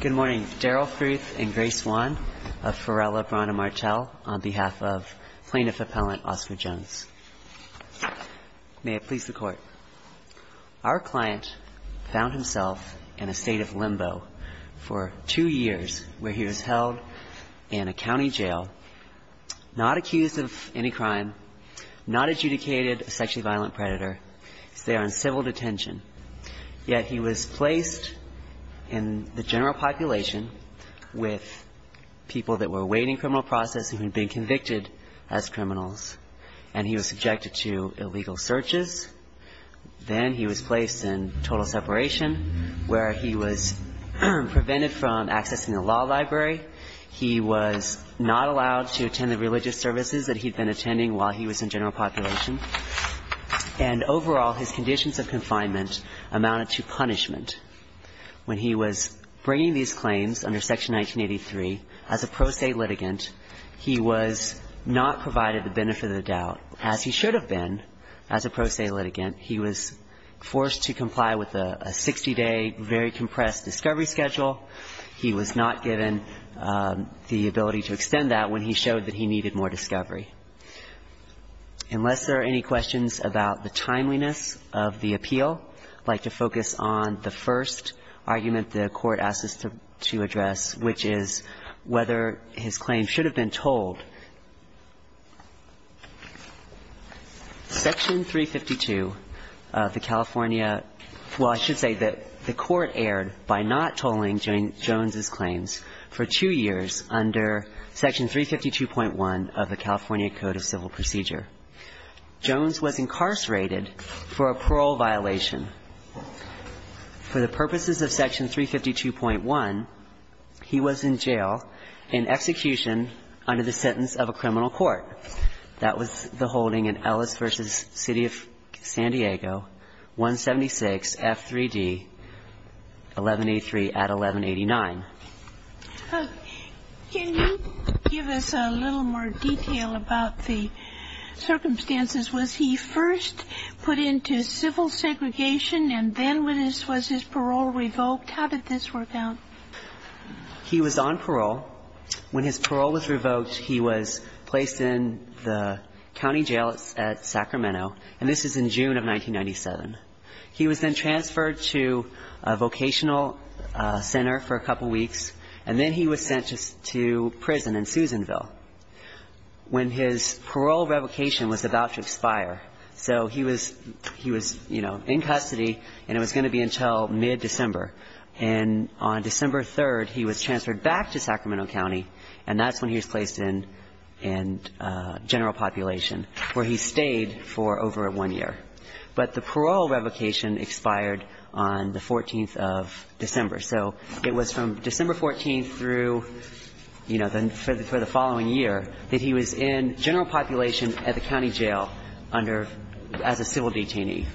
Good morning. Daryl Fruth and Grace Wan of Pharrell Lebron and Martel on behalf of Plaintiff Appellant Oscar Jones. May it please the Court. Our client found himself in a state of limbo for two years where he was held in a county jail, not accused of any crime, not adjudicated a sexually violent predator. He's there in civil detention, yet he was placed in the general population with people that were awaiting criminal process and who had been convicted as criminals, and he was subjected to illegal searches. Then he was placed in total separation where he was prevented from accessing the law library. He was not allowed to attend the religious services that he'd been attending while he was in general population. And overall, his conditions of confinement amounted to punishment. When he was bringing these claims under Section 1983, as a pro se litigant, he was not provided the benefit of the doubt, as he should have been as a pro se litigant. He was forced to comply with a 60-day, very compressed discovery schedule. He was not given the ability to extend that when he showed that he needed more discovery. Unless there are any questions about the timeliness of the appeal, I'd like to focus on the first argument the Court asked us to address, which is whether his claim should have been tolled. Section 352 of the California – well, I should say that the Court erred by not tolling Jones's claims for two years under Section 352.1 of the California Code of Procedure. Jones was incarcerated for a parole violation. For the purposes of Section 352.1, he was in jail and execution under the sentence of a criminal court. That was the holding in Ellis v. City of San Diego, 176 F3D, 1183 at 1189. Can you give us a little more detail about the circumstances? Was he first put into civil segregation, and then was his parole revoked? How did this work out? He was on parole. When his parole was revoked, he was placed in the county jail at Sacramento, and this is in June of 1997. He was then transferred to a vocational center for a couple weeks, and then he was sent to prison in Susanville. When his parole revocation was about to expire, so he was – he was, you know, in custody, and it was going to be until mid-December. And on December 3rd, he was transferred back to Sacramento County, and that's when he was placed in general population, where he stayed for over one year. But the parole revocation expired on the 14th of December. So it was from December 14th through, you know, for the following year that he was in general population at the county jail under – as a civil detainee.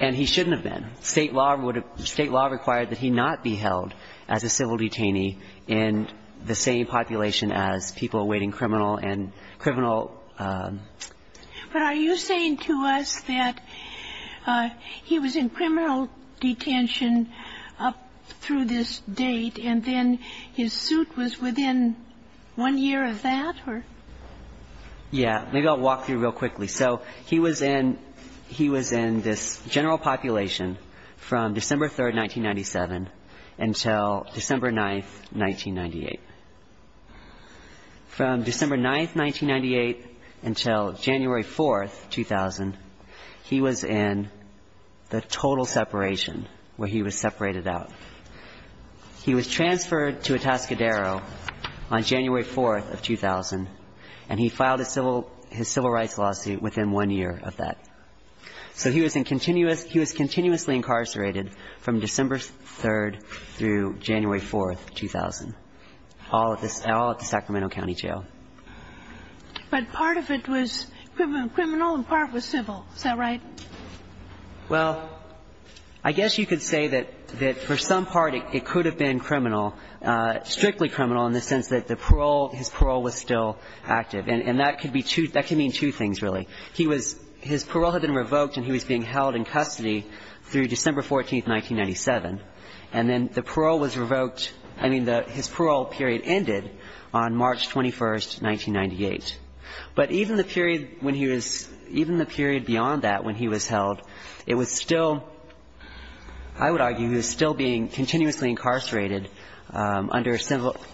And he shouldn't have been. State law would have – State law required that he not be held as a civil detainee in the same population as people awaiting criminal and criminal – But are you saying to us that he was in criminal detention up through this date, and then his suit was within one year of that, or – Yeah. Maybe I'll walk through real quickly. So he was in – he was in this general population from December 3rd, 1997, until December 9th, 1998. From December 9th, 1998, until January 4th, 2000, he was in the total separation, where he was separated out. He was transferred to Atascadero on January 4th of 2000, and he filed his civil rights lawsuit within one year of that. So he was in continuous – he was continuously incarcerated from December 3rd through January 4th, 2000, all at the Sacramento County Jail. But part of it was criminal and part was civil. Is that right? Well, I guess you could say that for some part it could have been criminal, strictly criminal in the sense that the parole – his parole was still active. And that could be two – that could mean two things, really. He was – his parole had been revoked, and he was being held in custody through December 14th, 1997. And then the parole was revoked – I mean, his parole period ended on March 21st, 1998. But even the period when he was – even the period beyond that when he was held, it was still – I would argue he was still being continuously incarcerated under civil –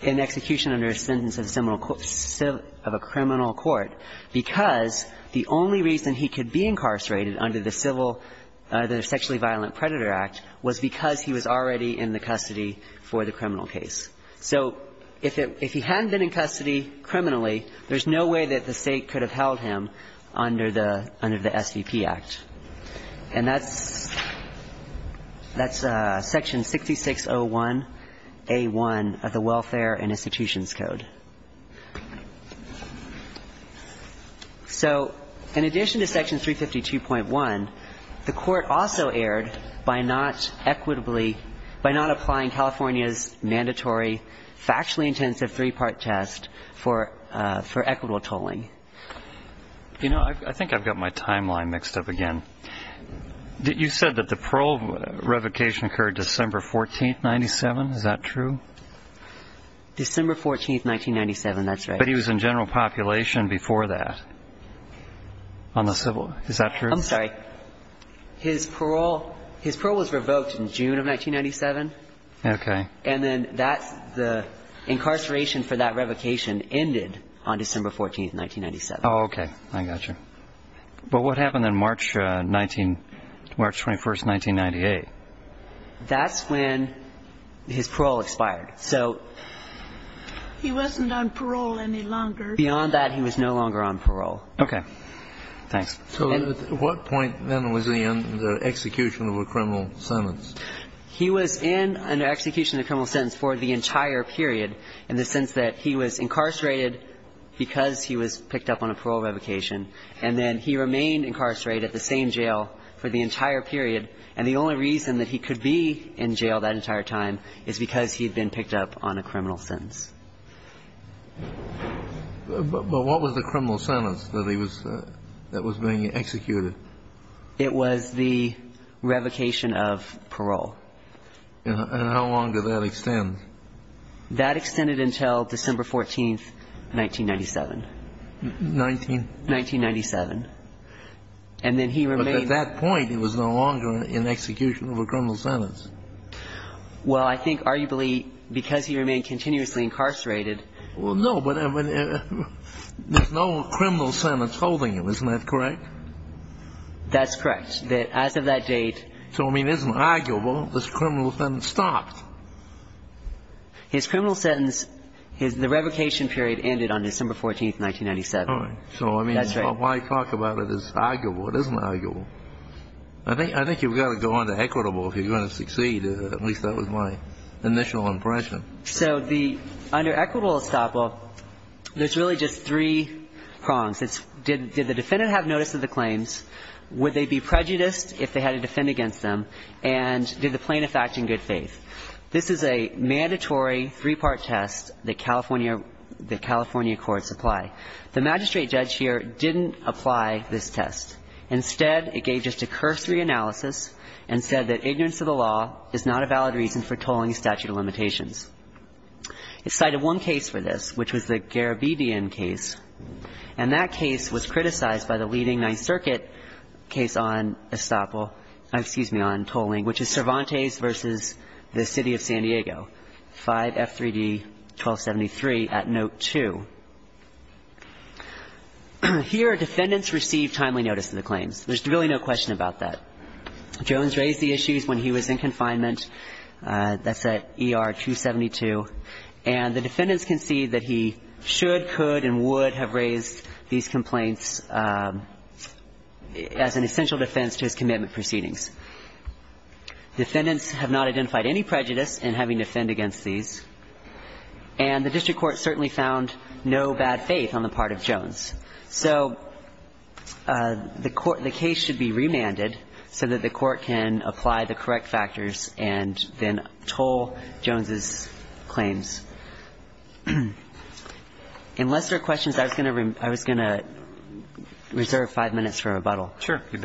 in execution under a sentence of a criminal court, because the only reason he could be incarcerated under the civil – the Sexually Violent Predator Act was because he was already in the custody for the criminal case. So if it – if he hadn't been in custody criminally, there's no way that the State could have held him under the – under the SVP Act. And that's – that's Section 6601A1 of the Welfare and Institutions Code. So in addition to Section 352.1, the Court also erred by not equitably – by not applying California's mandatory factually intensive three-part test for equitable tolling. You know, I think I've got my timeline mixed up again. You said that the parole revocation occurred December 14th, 1997. Is that true? December 14th, 1997. That's right. But he was in general population before that on the civil – is that true? I'm sorry. His parole – his parole was revoked in June of 1997. Okay. And then that – the incarceration for that revocation ended on December 14th, 1997. Oh, okay. I got you. But what happened on March 19 – March 21st, 1998? That's when his parole expired. He wasn't on parole any longer. Beyond that, he was no longer on parole. Okay. Thanks. So at what point then was he in the execution of a criminal sentence? He was in an execution of a criminal sentence for the entire period in the sense that he was incarcerated because he was picked up on a parole revocation, and then he remained incarcerated at the same jail for the entire period. And the only reason that he could be in jail that entire time is because he had been picked up on a criminal sentence. But what was the criminal sentence that he was – that was being executed? It was the revocation of parole. And how long did that extend? That extended until December 14th, 1997. Nineteen? 1997. And then he remained – At that point, he was no longer in execution of a criminal sentence. Well, I think arguably because he remained continuously incarcerated – Well, no, but there's no criminal sentence holding him. Isn't that correct? That's correct. That as of that date – So, I mean, it isn't arguable this criminal sentence stopped. His criminal sentence – the revocation period ended on December 14th, 1997. All right. So, I mean, why talk about it as arguable? It isn't arguable. I think you've got to go under equitable if you're going to succeed. At least that was my initial impression. So the – under equitable estoppel, there's really just three prongs. It's did the defendant have notice of the claims, would they be prejudiced if they had to defend against them, and did the plaintiff act in good faith? This is a mandatory three-part test that California – that California courts apply. The magistrate judge here didn't apply this test. Instead, it gave just a cursory analysis and said that ignorance of the law is not a valid reason for tolling a statute of limitations. It cited one case for this, which was the Garabedian case, and that case was criticized by the leading Ninth Circuit case on estoppel – excuse me, on tolling, which is Cervantes v. the City of San Diego, 5F3D 1273 at note 2. Here, defendants receive timely notice of the claims. There's really no question about that. Jones raised the issues when he was in confinement. That's at ER 272. And the defendants concede that he should, could, and would have raised these complaints as an essential defense to his commitment proceedings. Defendants have not identified any prejudice in having to defend against these. And the district court certainly found no bad faith on the part of Jones. So the court – the case should be remanded so that the court can apply the correct factors and then toll Jones's claims. Unless there are questions, I was going to reserve five minutes for rebuttal. Roberts.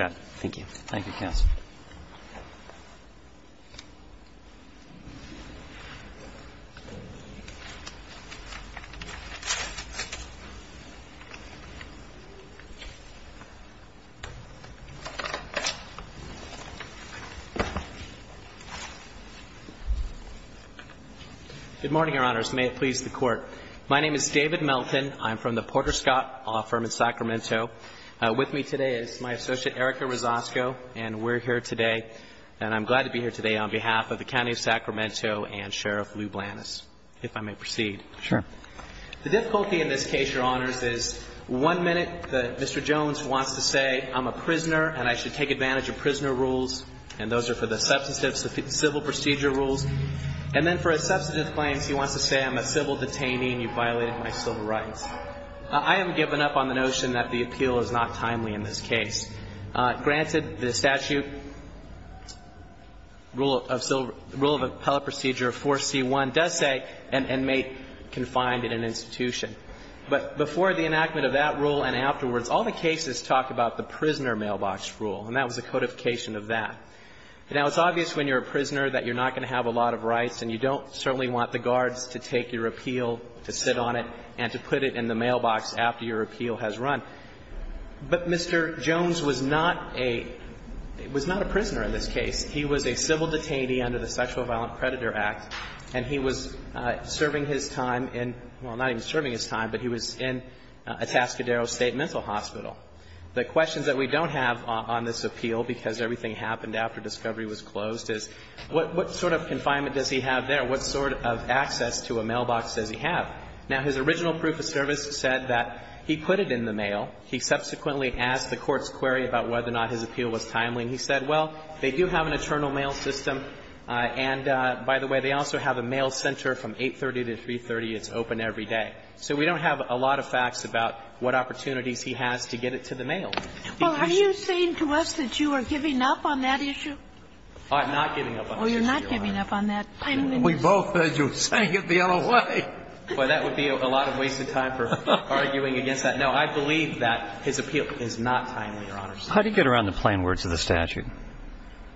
Good morning, Your Honors. May it please the Court. My name is David Melton. I'm from the Porter Scott law firm in Sacramento. With me today is my associate, Erica Rosasco. And we're here today, and I'm glad to be here today, on behalf of the County of Sacramento and Sheriff Lou Blantis, if I may proceed. Sure. The difficulty in this case, Your Honors, is one minute that Mr. Jones wants to say, I'm a prisoner and I should take advantage of prisoner rules, and those are for the substantive civil procedure rules. And then for his substantive claims, he wants to say, I'm a civil detainee and you've violated my civil rights. I am given up on the notion that the appeal is not timely in this case. Granted, the statute, rule of appellate procedure 4C1, does say an inmate confined in an institution. But before the enactment of that rule and afterwards, all the cases talk about the prisoner mailbox rule, and that was a codification of that. Now, it's obvious when you're a prisoner that you're not going to have a lot of rights and you don't certainly want the guards to take your appeal, to sit on it, and to put it in the mailbox after your appeal has run. But Mr. Jones was not a prisoner in this case. He was a civil detainee under the Sexual Violent Predator Act, and he was serving his time in – well, not even serving his time, but he was in Atascadero State Mental Hospital. The questions that we don't have on this appeal, because everything happened after the discovery was closed, is what sort of confinement does he have there? What sort of access to a mailbox does he have? Now, his original proof of service said that he put it in the mail. He subsequently asked the court's query about whether or not his appeal was timely, and he said, well, they do have an eternal mail system, and by the way, they also have a mail center from 830 to 330. It's open every day. So we don't have a lot of facts about what opportunities he has to get it to the mail. Kagan. Well, are you saying to us that you are giving up on that issue? I'm not giving up on that issue, Your Honor. Oh, you're not giving up on that. We both heard you saying it the other way. Well, that would be a lot of wasted time for arguing against that. No, I believe that his appeal is not timely, Your Honor. How do you get around the plain words of the statute?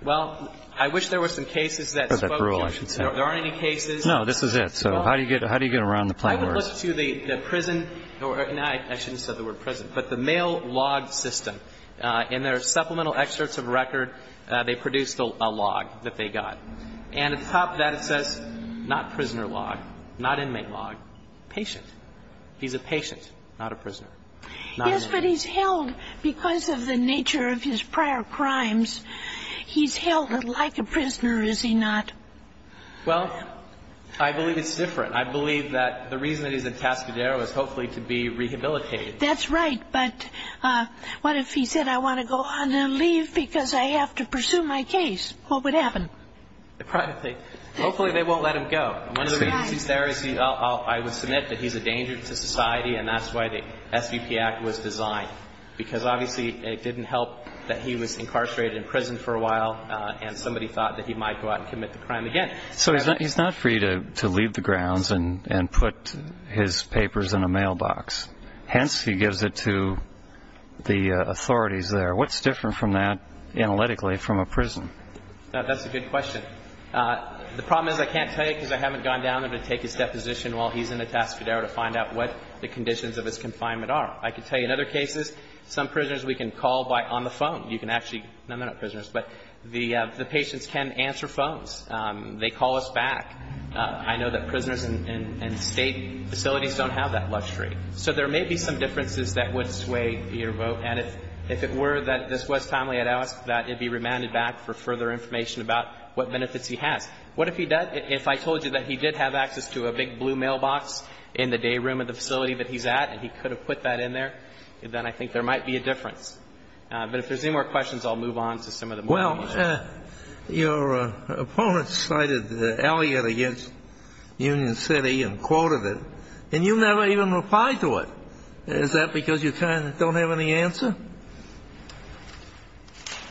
Well, I wish there were some cases that spoke to it. That's that rule, I should say. No, this is it. So how do you get around the plain words? I would look to the prison or the mail log system. In their supplemental excerpts of record, they produced a log that they got. And at the top of that, it says not prisoner log, not inmate log, patient. He's a patient, not a prisoner. Yes, but he's held because of the nature of his prior crimes. He's held like a prisoner, is he not? Well, I believe it's different. I believe that the reason that he's in Cascadero is hopefully to be rehabilitated. That's right. But what if he said, I want to go on and leave because I have to pursue my case? What would happen? Hopefully they won't let him go. One of the reasons he's there is I would submit that he's a danger to society, and that's why the SVP Act was designed, because obviously it didn't help that he was incarcerated in prison for a while and somebody thought that he might go out and commit the crime again. So he's not free to leave the grounds and put his papers in a mailbox. Hence, he gives it to the authorities there. What's different from that analytically from a prison? That's a good question. The problem is I can't tell you because I haven't gone down there to take his deposition while he's in Cascadero to find out what the conditions of his confinement are. I can tell you in other cases, some prisoners we can call by on the phone. You can actually, no, they're not prisoners, but the patients can answer phones. They call us back. I know that prisoners in State facilities don't have that luxury. So there may be some differences that would sway your vote. And if it were that this was timely, I'd ask that it be remanded back for further information about what benefits he has. What if he does? If I told you that he did have access to a big blue mailbox in the day room of the facility that he's at and he could have put that in there, then I think there might be a difference. But if there's any more questions, I'll move on to some of the more unusual. Your opponent cited Elliott against Union City and quoted it, and you never even replied to it. Is that because you don't have any answer?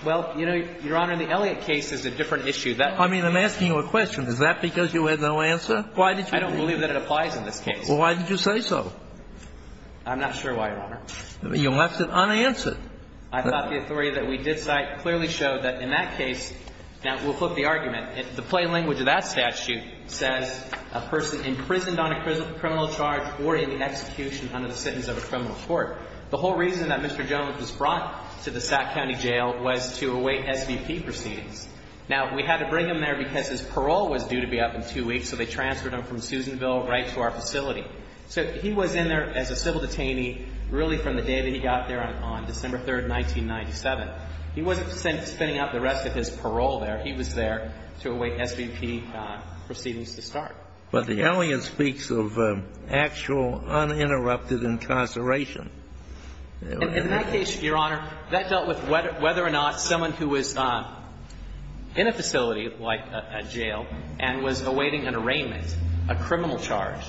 Well, Your Honor, the Elliott case is a different issue. I mean, I'm asking you a question. Is that because you had no answer? I don't believe that it applies in this case. Well, why did you say so? I'm not sure why, Your Honor. You left it unanswered. I thought the authority that we did cite clearly showed that in that case, now we'll flip the argument. The plain language of that statute says a person imprisoned on a criminal charge or in execution under the sentence of a criminal court. The whole reason that Mr. Jones was brought to the Sac County Jail was to await SVP proceedings. Now, we had to bring him there because his parole was due to be up in two weeks, so they transferred him from Susanville right to our facility. So he was in there as a civil detainee really from the day that he got there on December 3, 1997. He wasn't spending up the rest of his parole there. He was there to await SVP proceedings to start. But the Elliott speaks of actual uninterrupted incarceration. In that case, Your Honor, that dealt with whether or not someone who was in a facility like a jail and was awaiting an arraignment, a criminal charge,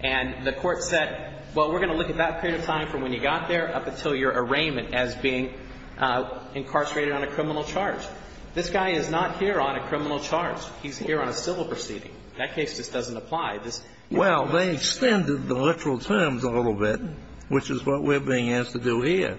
and the court said, well, we're going to look at that period of time from when you got there up until your arraignment as being incarcerated on a criminal charge. This guy is not here on a criminal charge. He's here on a civil proceeding. That case just doesn't apply. This ---- Well, they extended the literal terms a little bit, which is what we're being asked to do here.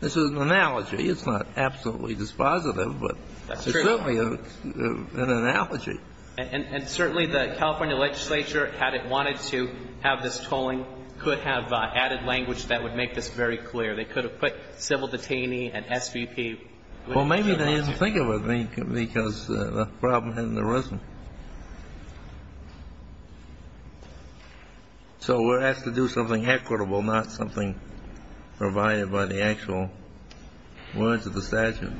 This is an analogy. It's not absolutely dispositive, but it's certainly an analogy. And certainly the California legislature, had it wanted to have this tolling, could have added language that would make this very clear. They could have put civil detainee and SVP. Well, maybe they didn't think of it because the problem hadn't arisen. So we're asked to do something equitable, not something provided by the actual words of the statute.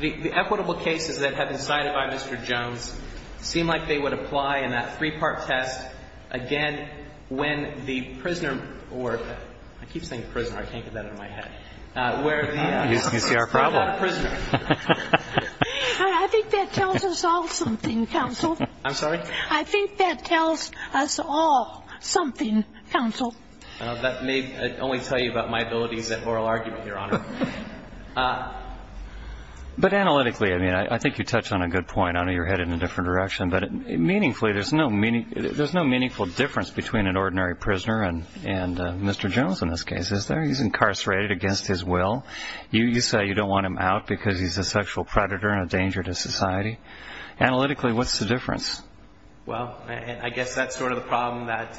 The equitable cases that have been cited by Mr. Jones seem like they would apply in that three-part test again when the prisoner or ---- I keep saying prisoner. I can't get that out of my head. Where the ---- You see our problem. I think that tells us all something, counsel. I'm sorry? I think that tells us all something, counsel. That may only tell you about my abilities at oral argument, Your Honor. But analytically, I mean, I think you touch on a good point. I know you're headed in a different direction. But meaningfully, there's no meaningful difference between an ordinary prisoner and Mr. Jones in this case. He's incarcerated against his will. You say you don't want him out because he's a sexual predator and a danger to society. Analytically, what's the difference? Well, I guess that's sort of the problem that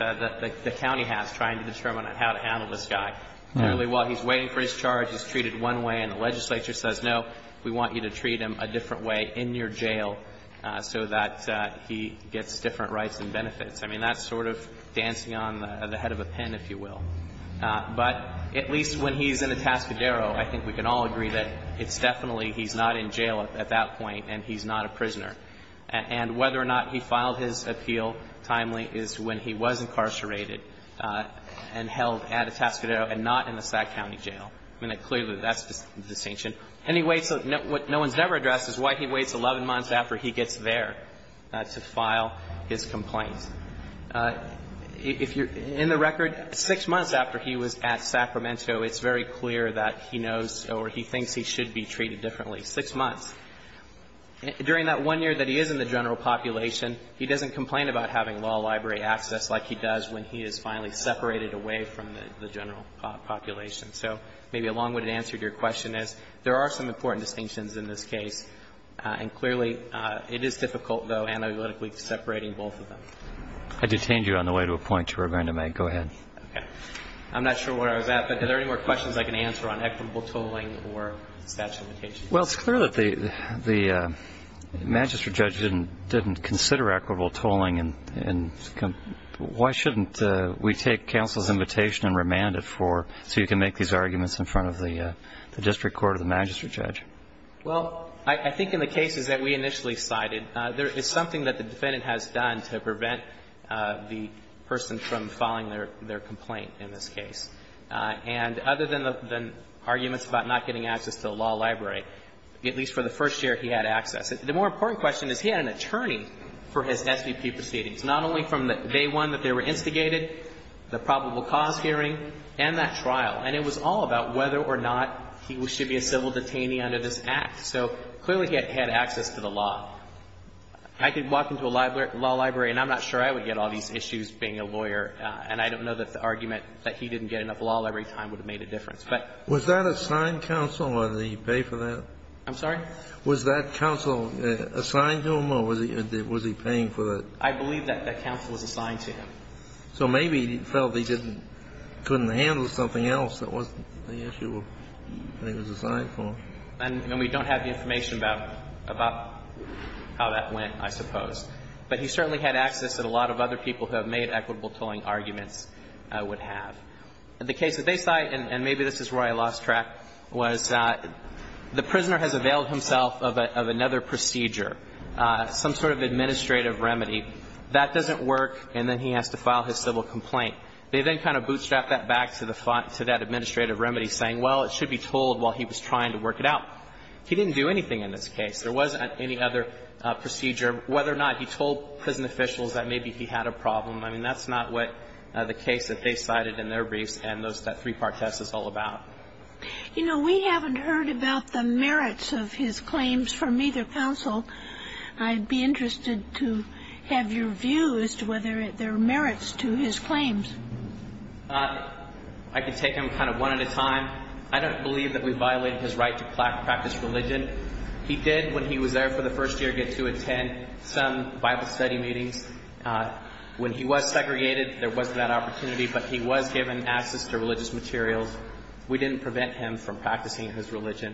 the county has, trying to determine how to handle this guy. Clearly, while he's waiting for his charge, he's treated one way and the legislature says, no, we want you to treat him a different way in your jail so that he gets different rights and benefits. I mean, that's sort of dancing on the head of a pin, if you will. But at least when he's in Atascadero, I think we can all agree that it's definitely he's not in jail at that point and he's not a prisoner. And whether or not he filed his appeal timely is when he was incarcerated and held at Atascadero and not in the Sac County Jail. I mean, clearly, that's the distinction. And he waits. What no one's ever addressed is why he waits 11 months after he gets there to file his complaint. If you're in the record, six months after he was at Sacramento, it's very clear that he knows or he thinks he should be treated differently. Six months. During that one year that he is in the general population, he doesn't complain about having law library access like he does when he is finally separated away from the general population. So maybe a long-winded answer to your question is there are some important distinctions in this case. And clearly, it is difficult, though, analytically separating both of them. I detained you on the way to a point you were going to make. Go ahead. Okay. I'm not sure where I was at, but are there any more questions I can answer on equitable tolling or statute of limitations? Well, it's clear that the magistrate judge didn't consider equitable tolling. And why shouldn't we take counsel's invitation and remand it for, so you can make these arguments in front of the district court or the magistrate judge? Well, I think in the cases that we initially cited, there is something that the defendant has done to prevent the person from filing their complaint in this case. And other than the arguments about not getting access to the law library, at least for the first year, he had access. The more important question is he had an attorney for his SVP proceedings, not only from day one that they were instigated, the probable cause hearing, and that trial. And it was all about whether or not he should be a civil detainee under this Act. So clearly, he had access to the law. I could walk into a law library, and I'm not sure I would get all these issues being a lawyer. And I don't know that the argument that he didn't get enough law every time would have made a difference. But he had access. Was that assigned counsel, or did he pay for that? I'm sorry? Was that counsel assigned to him, or was he paying for that? I believe that that counsel was assigned to him. So maybe he felt he couldn't handle something else that wasn't the issue that he was assigned for. And we don't have the information about how that went, I suppose. But he certainly had access that a lot of other people who have made equitable tolling arguments would have. The case that they cite, and maybe this is where I lost track, was the prisoner has availed himself of another procedure, some sort of administrative remedy. That doesn't work, and then he has to file his civil complaint. They then kind of bootstrap that back to that administrative remedy, saying, well, it should be told while he was trying to work it out. He didn't do anything in this case. There wasn't any other procedure. Whether or not he told prison officials that maybe he had a problem, I mean, that's not what the case that they cited in their briefs and that three-part test is all about. You know, we haven't heard about the merits of his claims from either counsel. I'd be interested to have your view as to whether there are merits to his claims. I can take them kind of one at a time. I don't believe that we violated his right to practice religion. He did, when he was there for the first year, get to attend some Bible study meetings. When he was segregated, there wasn't that opportunity, but he was given access to religious materials. We didn't prevent him from practicing his religion.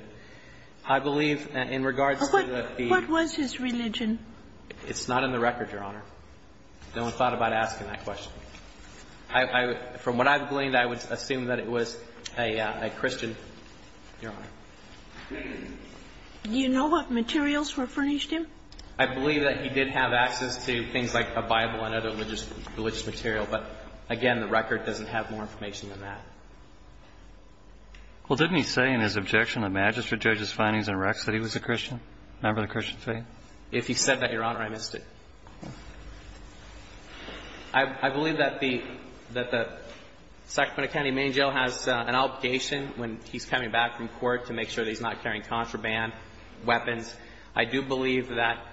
I believe in regards to the fee. What was his religion? It's not in the record, Your Honor. No one thought about asking that question. From what I've gleaned, I would assume that it was a Christian. Your Honor. Do you know what materials were furnished to him? I believe that he did have access to things like a Bible and other religious material. But, again, the record doesn't have more information than that. Well, didn't he say in his objection to the magistrate judge's findings in Rex that he was a Christian, a member of the Christian faith? If he said that, Your Honor, I missed it. I believe that the Sacramento County Main Jail has an obligation when he's coming back from court to make sure that he's not carrying contraband, weapons. I do believe that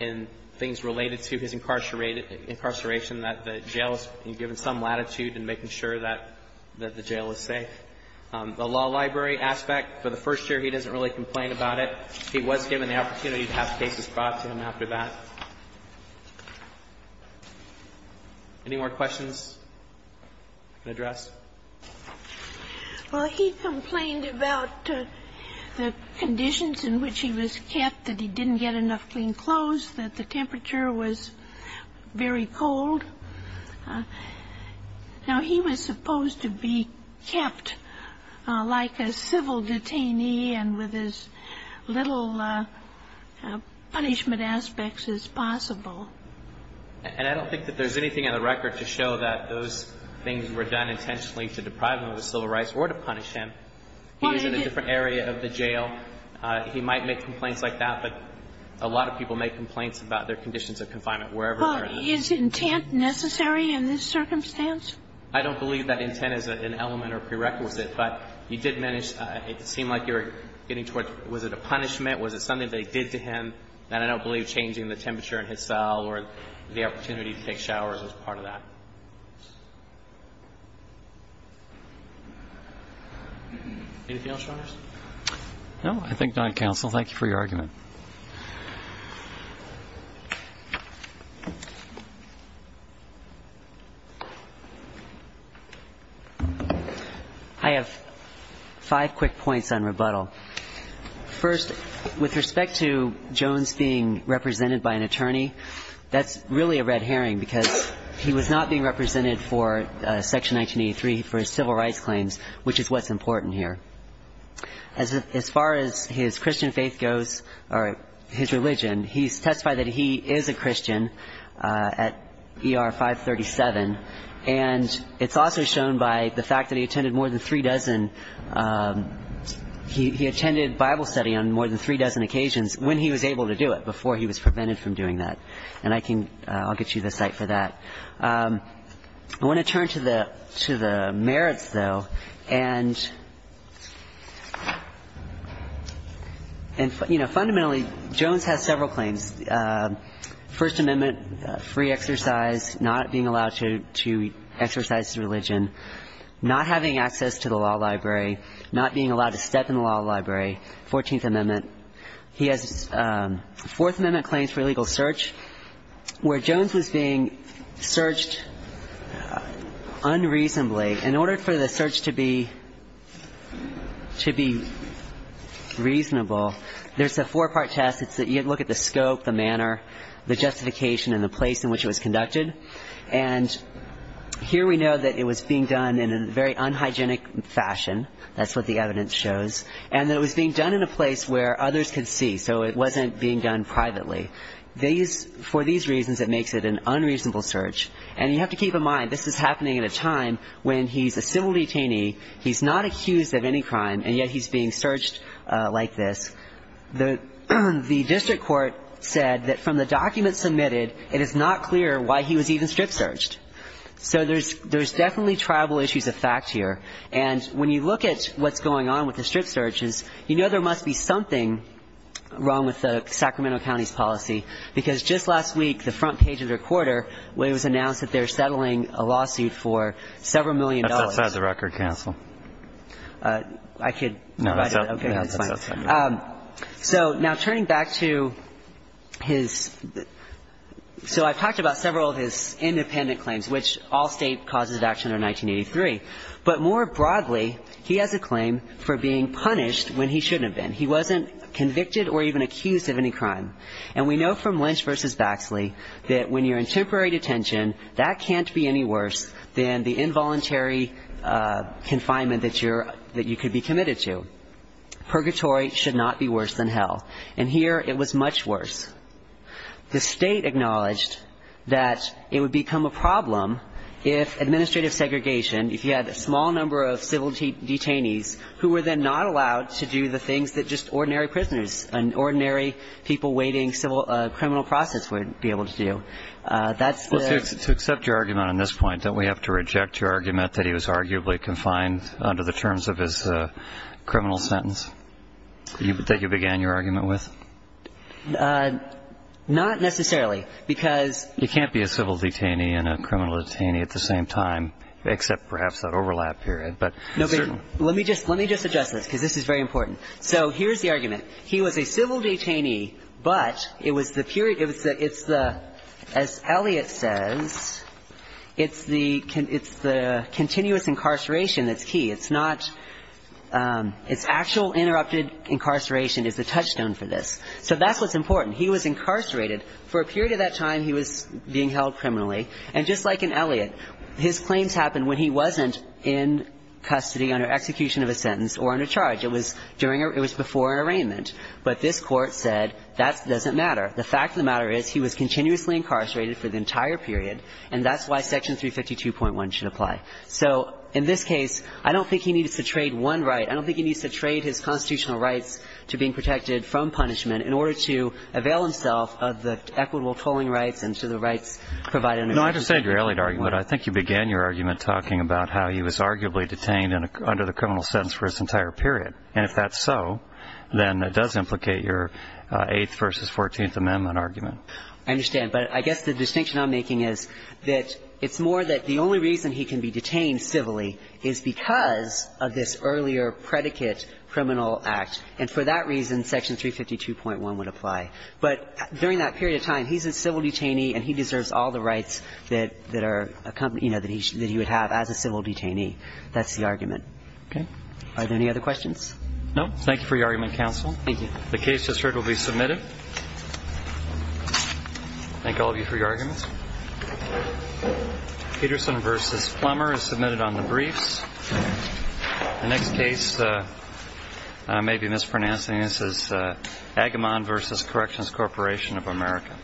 in things related to his incarceration, that the jail has been given some latitude in making sure that the jail is safe. The law library aspect, for the first year, he doesn't really complain about it. He was given the opportunity to have cases brought to him after that. Any more questions you can address? Well, he complained about the conditions in which he was kept, that he didn't get enough clean clothes, that the temperature was very cold. Now, he was supposed to be kept like a civil detainee and with his little clothes on. And I don't think that there's anything in the record to show that those things were done intentionally to deprive him of his civil rights or to punish him. He was in a different area of the jail. He might make complaints like that, but a lot of people make complaints about their conditions of confinement, wherever they are. But is intent necessary in this circumstance? I don't believe that intent is an element or prerequisite. But he did manage, it seemed like you were getting towards, was it a punishment? Was it something they did to him that I don't believe changing the temperature in his cell or the opportunity to take showers was part of that? Anything else, Your Honors? No, I think that's all. Thank you for your argument. I have five quick points on rebuttal. First, with respect to Jones being represented by an attorney, that's really a red herring because he was not being represented for Section 1983 for his civil rights claims, which is what's important here. As far as his Christian faith goes, or his religion, he testified that he is a Christian at ER 537. And it's also shown by the fact that he attended more than three dozen. He attended Bible study on more than three dozen occasions when he was able to do it, before he was prevented from doing that. And I'll get you the site for that. I want to turn to the merits, though. And, you know, fundamentally, Jones has several claims. First Amendment, free exercise, not being allowed to exercise religion, not having access to the law library, not being allowed to step in the law library, 14th Amendment. He has Fourth Amendment claims for illegal search, where Jones was being searched unreasonably. In order for the search to be reasonable, there's a four-part test. You have to look at the scope, the manner, the justification, and the place in which it was conducted. And here we know that it was being done in a very unhygienic fashion. That's what the evidence shows. And that it was being done in a place where others could see, so it wasn't being done privately. For these reasons, it makes it an unreasonable search. And you have to keep in mind, this is happening at a time when he's a civil detainee. He's not accused of any crime, and yet he's being searched like this. The district court said that from the documents submitted, it is not clear why he was even strip searched. So there's definitely tribal issues of fact here. And when you look at what's going on with the strip searches, you know there must be something wrong with the Sacramento County's policy, because just last week, the front page of the Recorder, it was announced that they're settling a lawsuit for several million dollars. That's outside the record, counsel. I could address that. No, that's fine. So now turning back to his – so I've talked about several of his independent claims, which all state causes of action are 1983. But more broadly, he has a claim for being punished when he shouldn't have been. He wasn't convicted or even accused of any crime. And we know from Lynch v. Baxley that when you're in temporary detention, that can't be any worse than the involuntary confinement that you could be committed to. Purgatory should not be worse than hell. And here it was much worse. The state acknowledged that it would become a problem if administrative segregation, if you had a small number of civil detainees, who were then not allowed to do the things that just ordinary prisoners and ordinary people waiting a criminal process would be able to do. That's the – Well, to accept your argument on this point, don't we have to reject your argument that he was arguably confined under the terms of his criminal sentence that you began your argument with? Not necessarily, because – You can't be a civil detainee and a criminal detainee at the same time, except perhaps that overlap period. But – No, but let me just – let me just address this, because this is very important. So here's the argument. He was a civil detainee, but it was the period – it's the – as Eliot says, it's the – it's the continuous incarceration that's key. It's not – it's actual interrupted incarceration is the touchstone for this. So that's what's important. He was incarcerated. For a period of that time, he was being held criminally. And just like in Eliot, his claims happened when he wasn't in custody under execution of a sentence or under charge. It was during – it was before an arraignment. But this Court said that doesn't matter. The fact of the matter is he was continuously incarcerated for the entire period and that's why Section 352.1 should apply. So in this case, I don't think he needs to trade one right. I don't think he needs to trade his constitutional rights to being protected from punishment in order to avail himself of the equitable tolling rights and to the rights provided under – No, I understand your Eliot argument. I think you began your argument talking about how he was arguably detained under the criminal sentence for his entire period. And if that's so, then it does implicate your Eighth versus Fourteenth Amendment argument. I understand. But I guess the distinction I'm making is that it's more that the only reason he can be detained civilly is because of this earlier predicate criminal act. And for that reason, Section 352.1 would apply. But during that period of time, he's a civil detainee and he deserves all the rights that are accompanied – you know, that he would have as a civil detainee. That's the argument. Okay. Are there any other questions? No. Thank you for your argument, counsel. Thank you. The case just heard will be submitted. Thank all of you for your arguments. Peterson versus Plummer is submitted on the briefs. The next case may be mispronouncing. This is Agamon versus Corrections Corporation of America.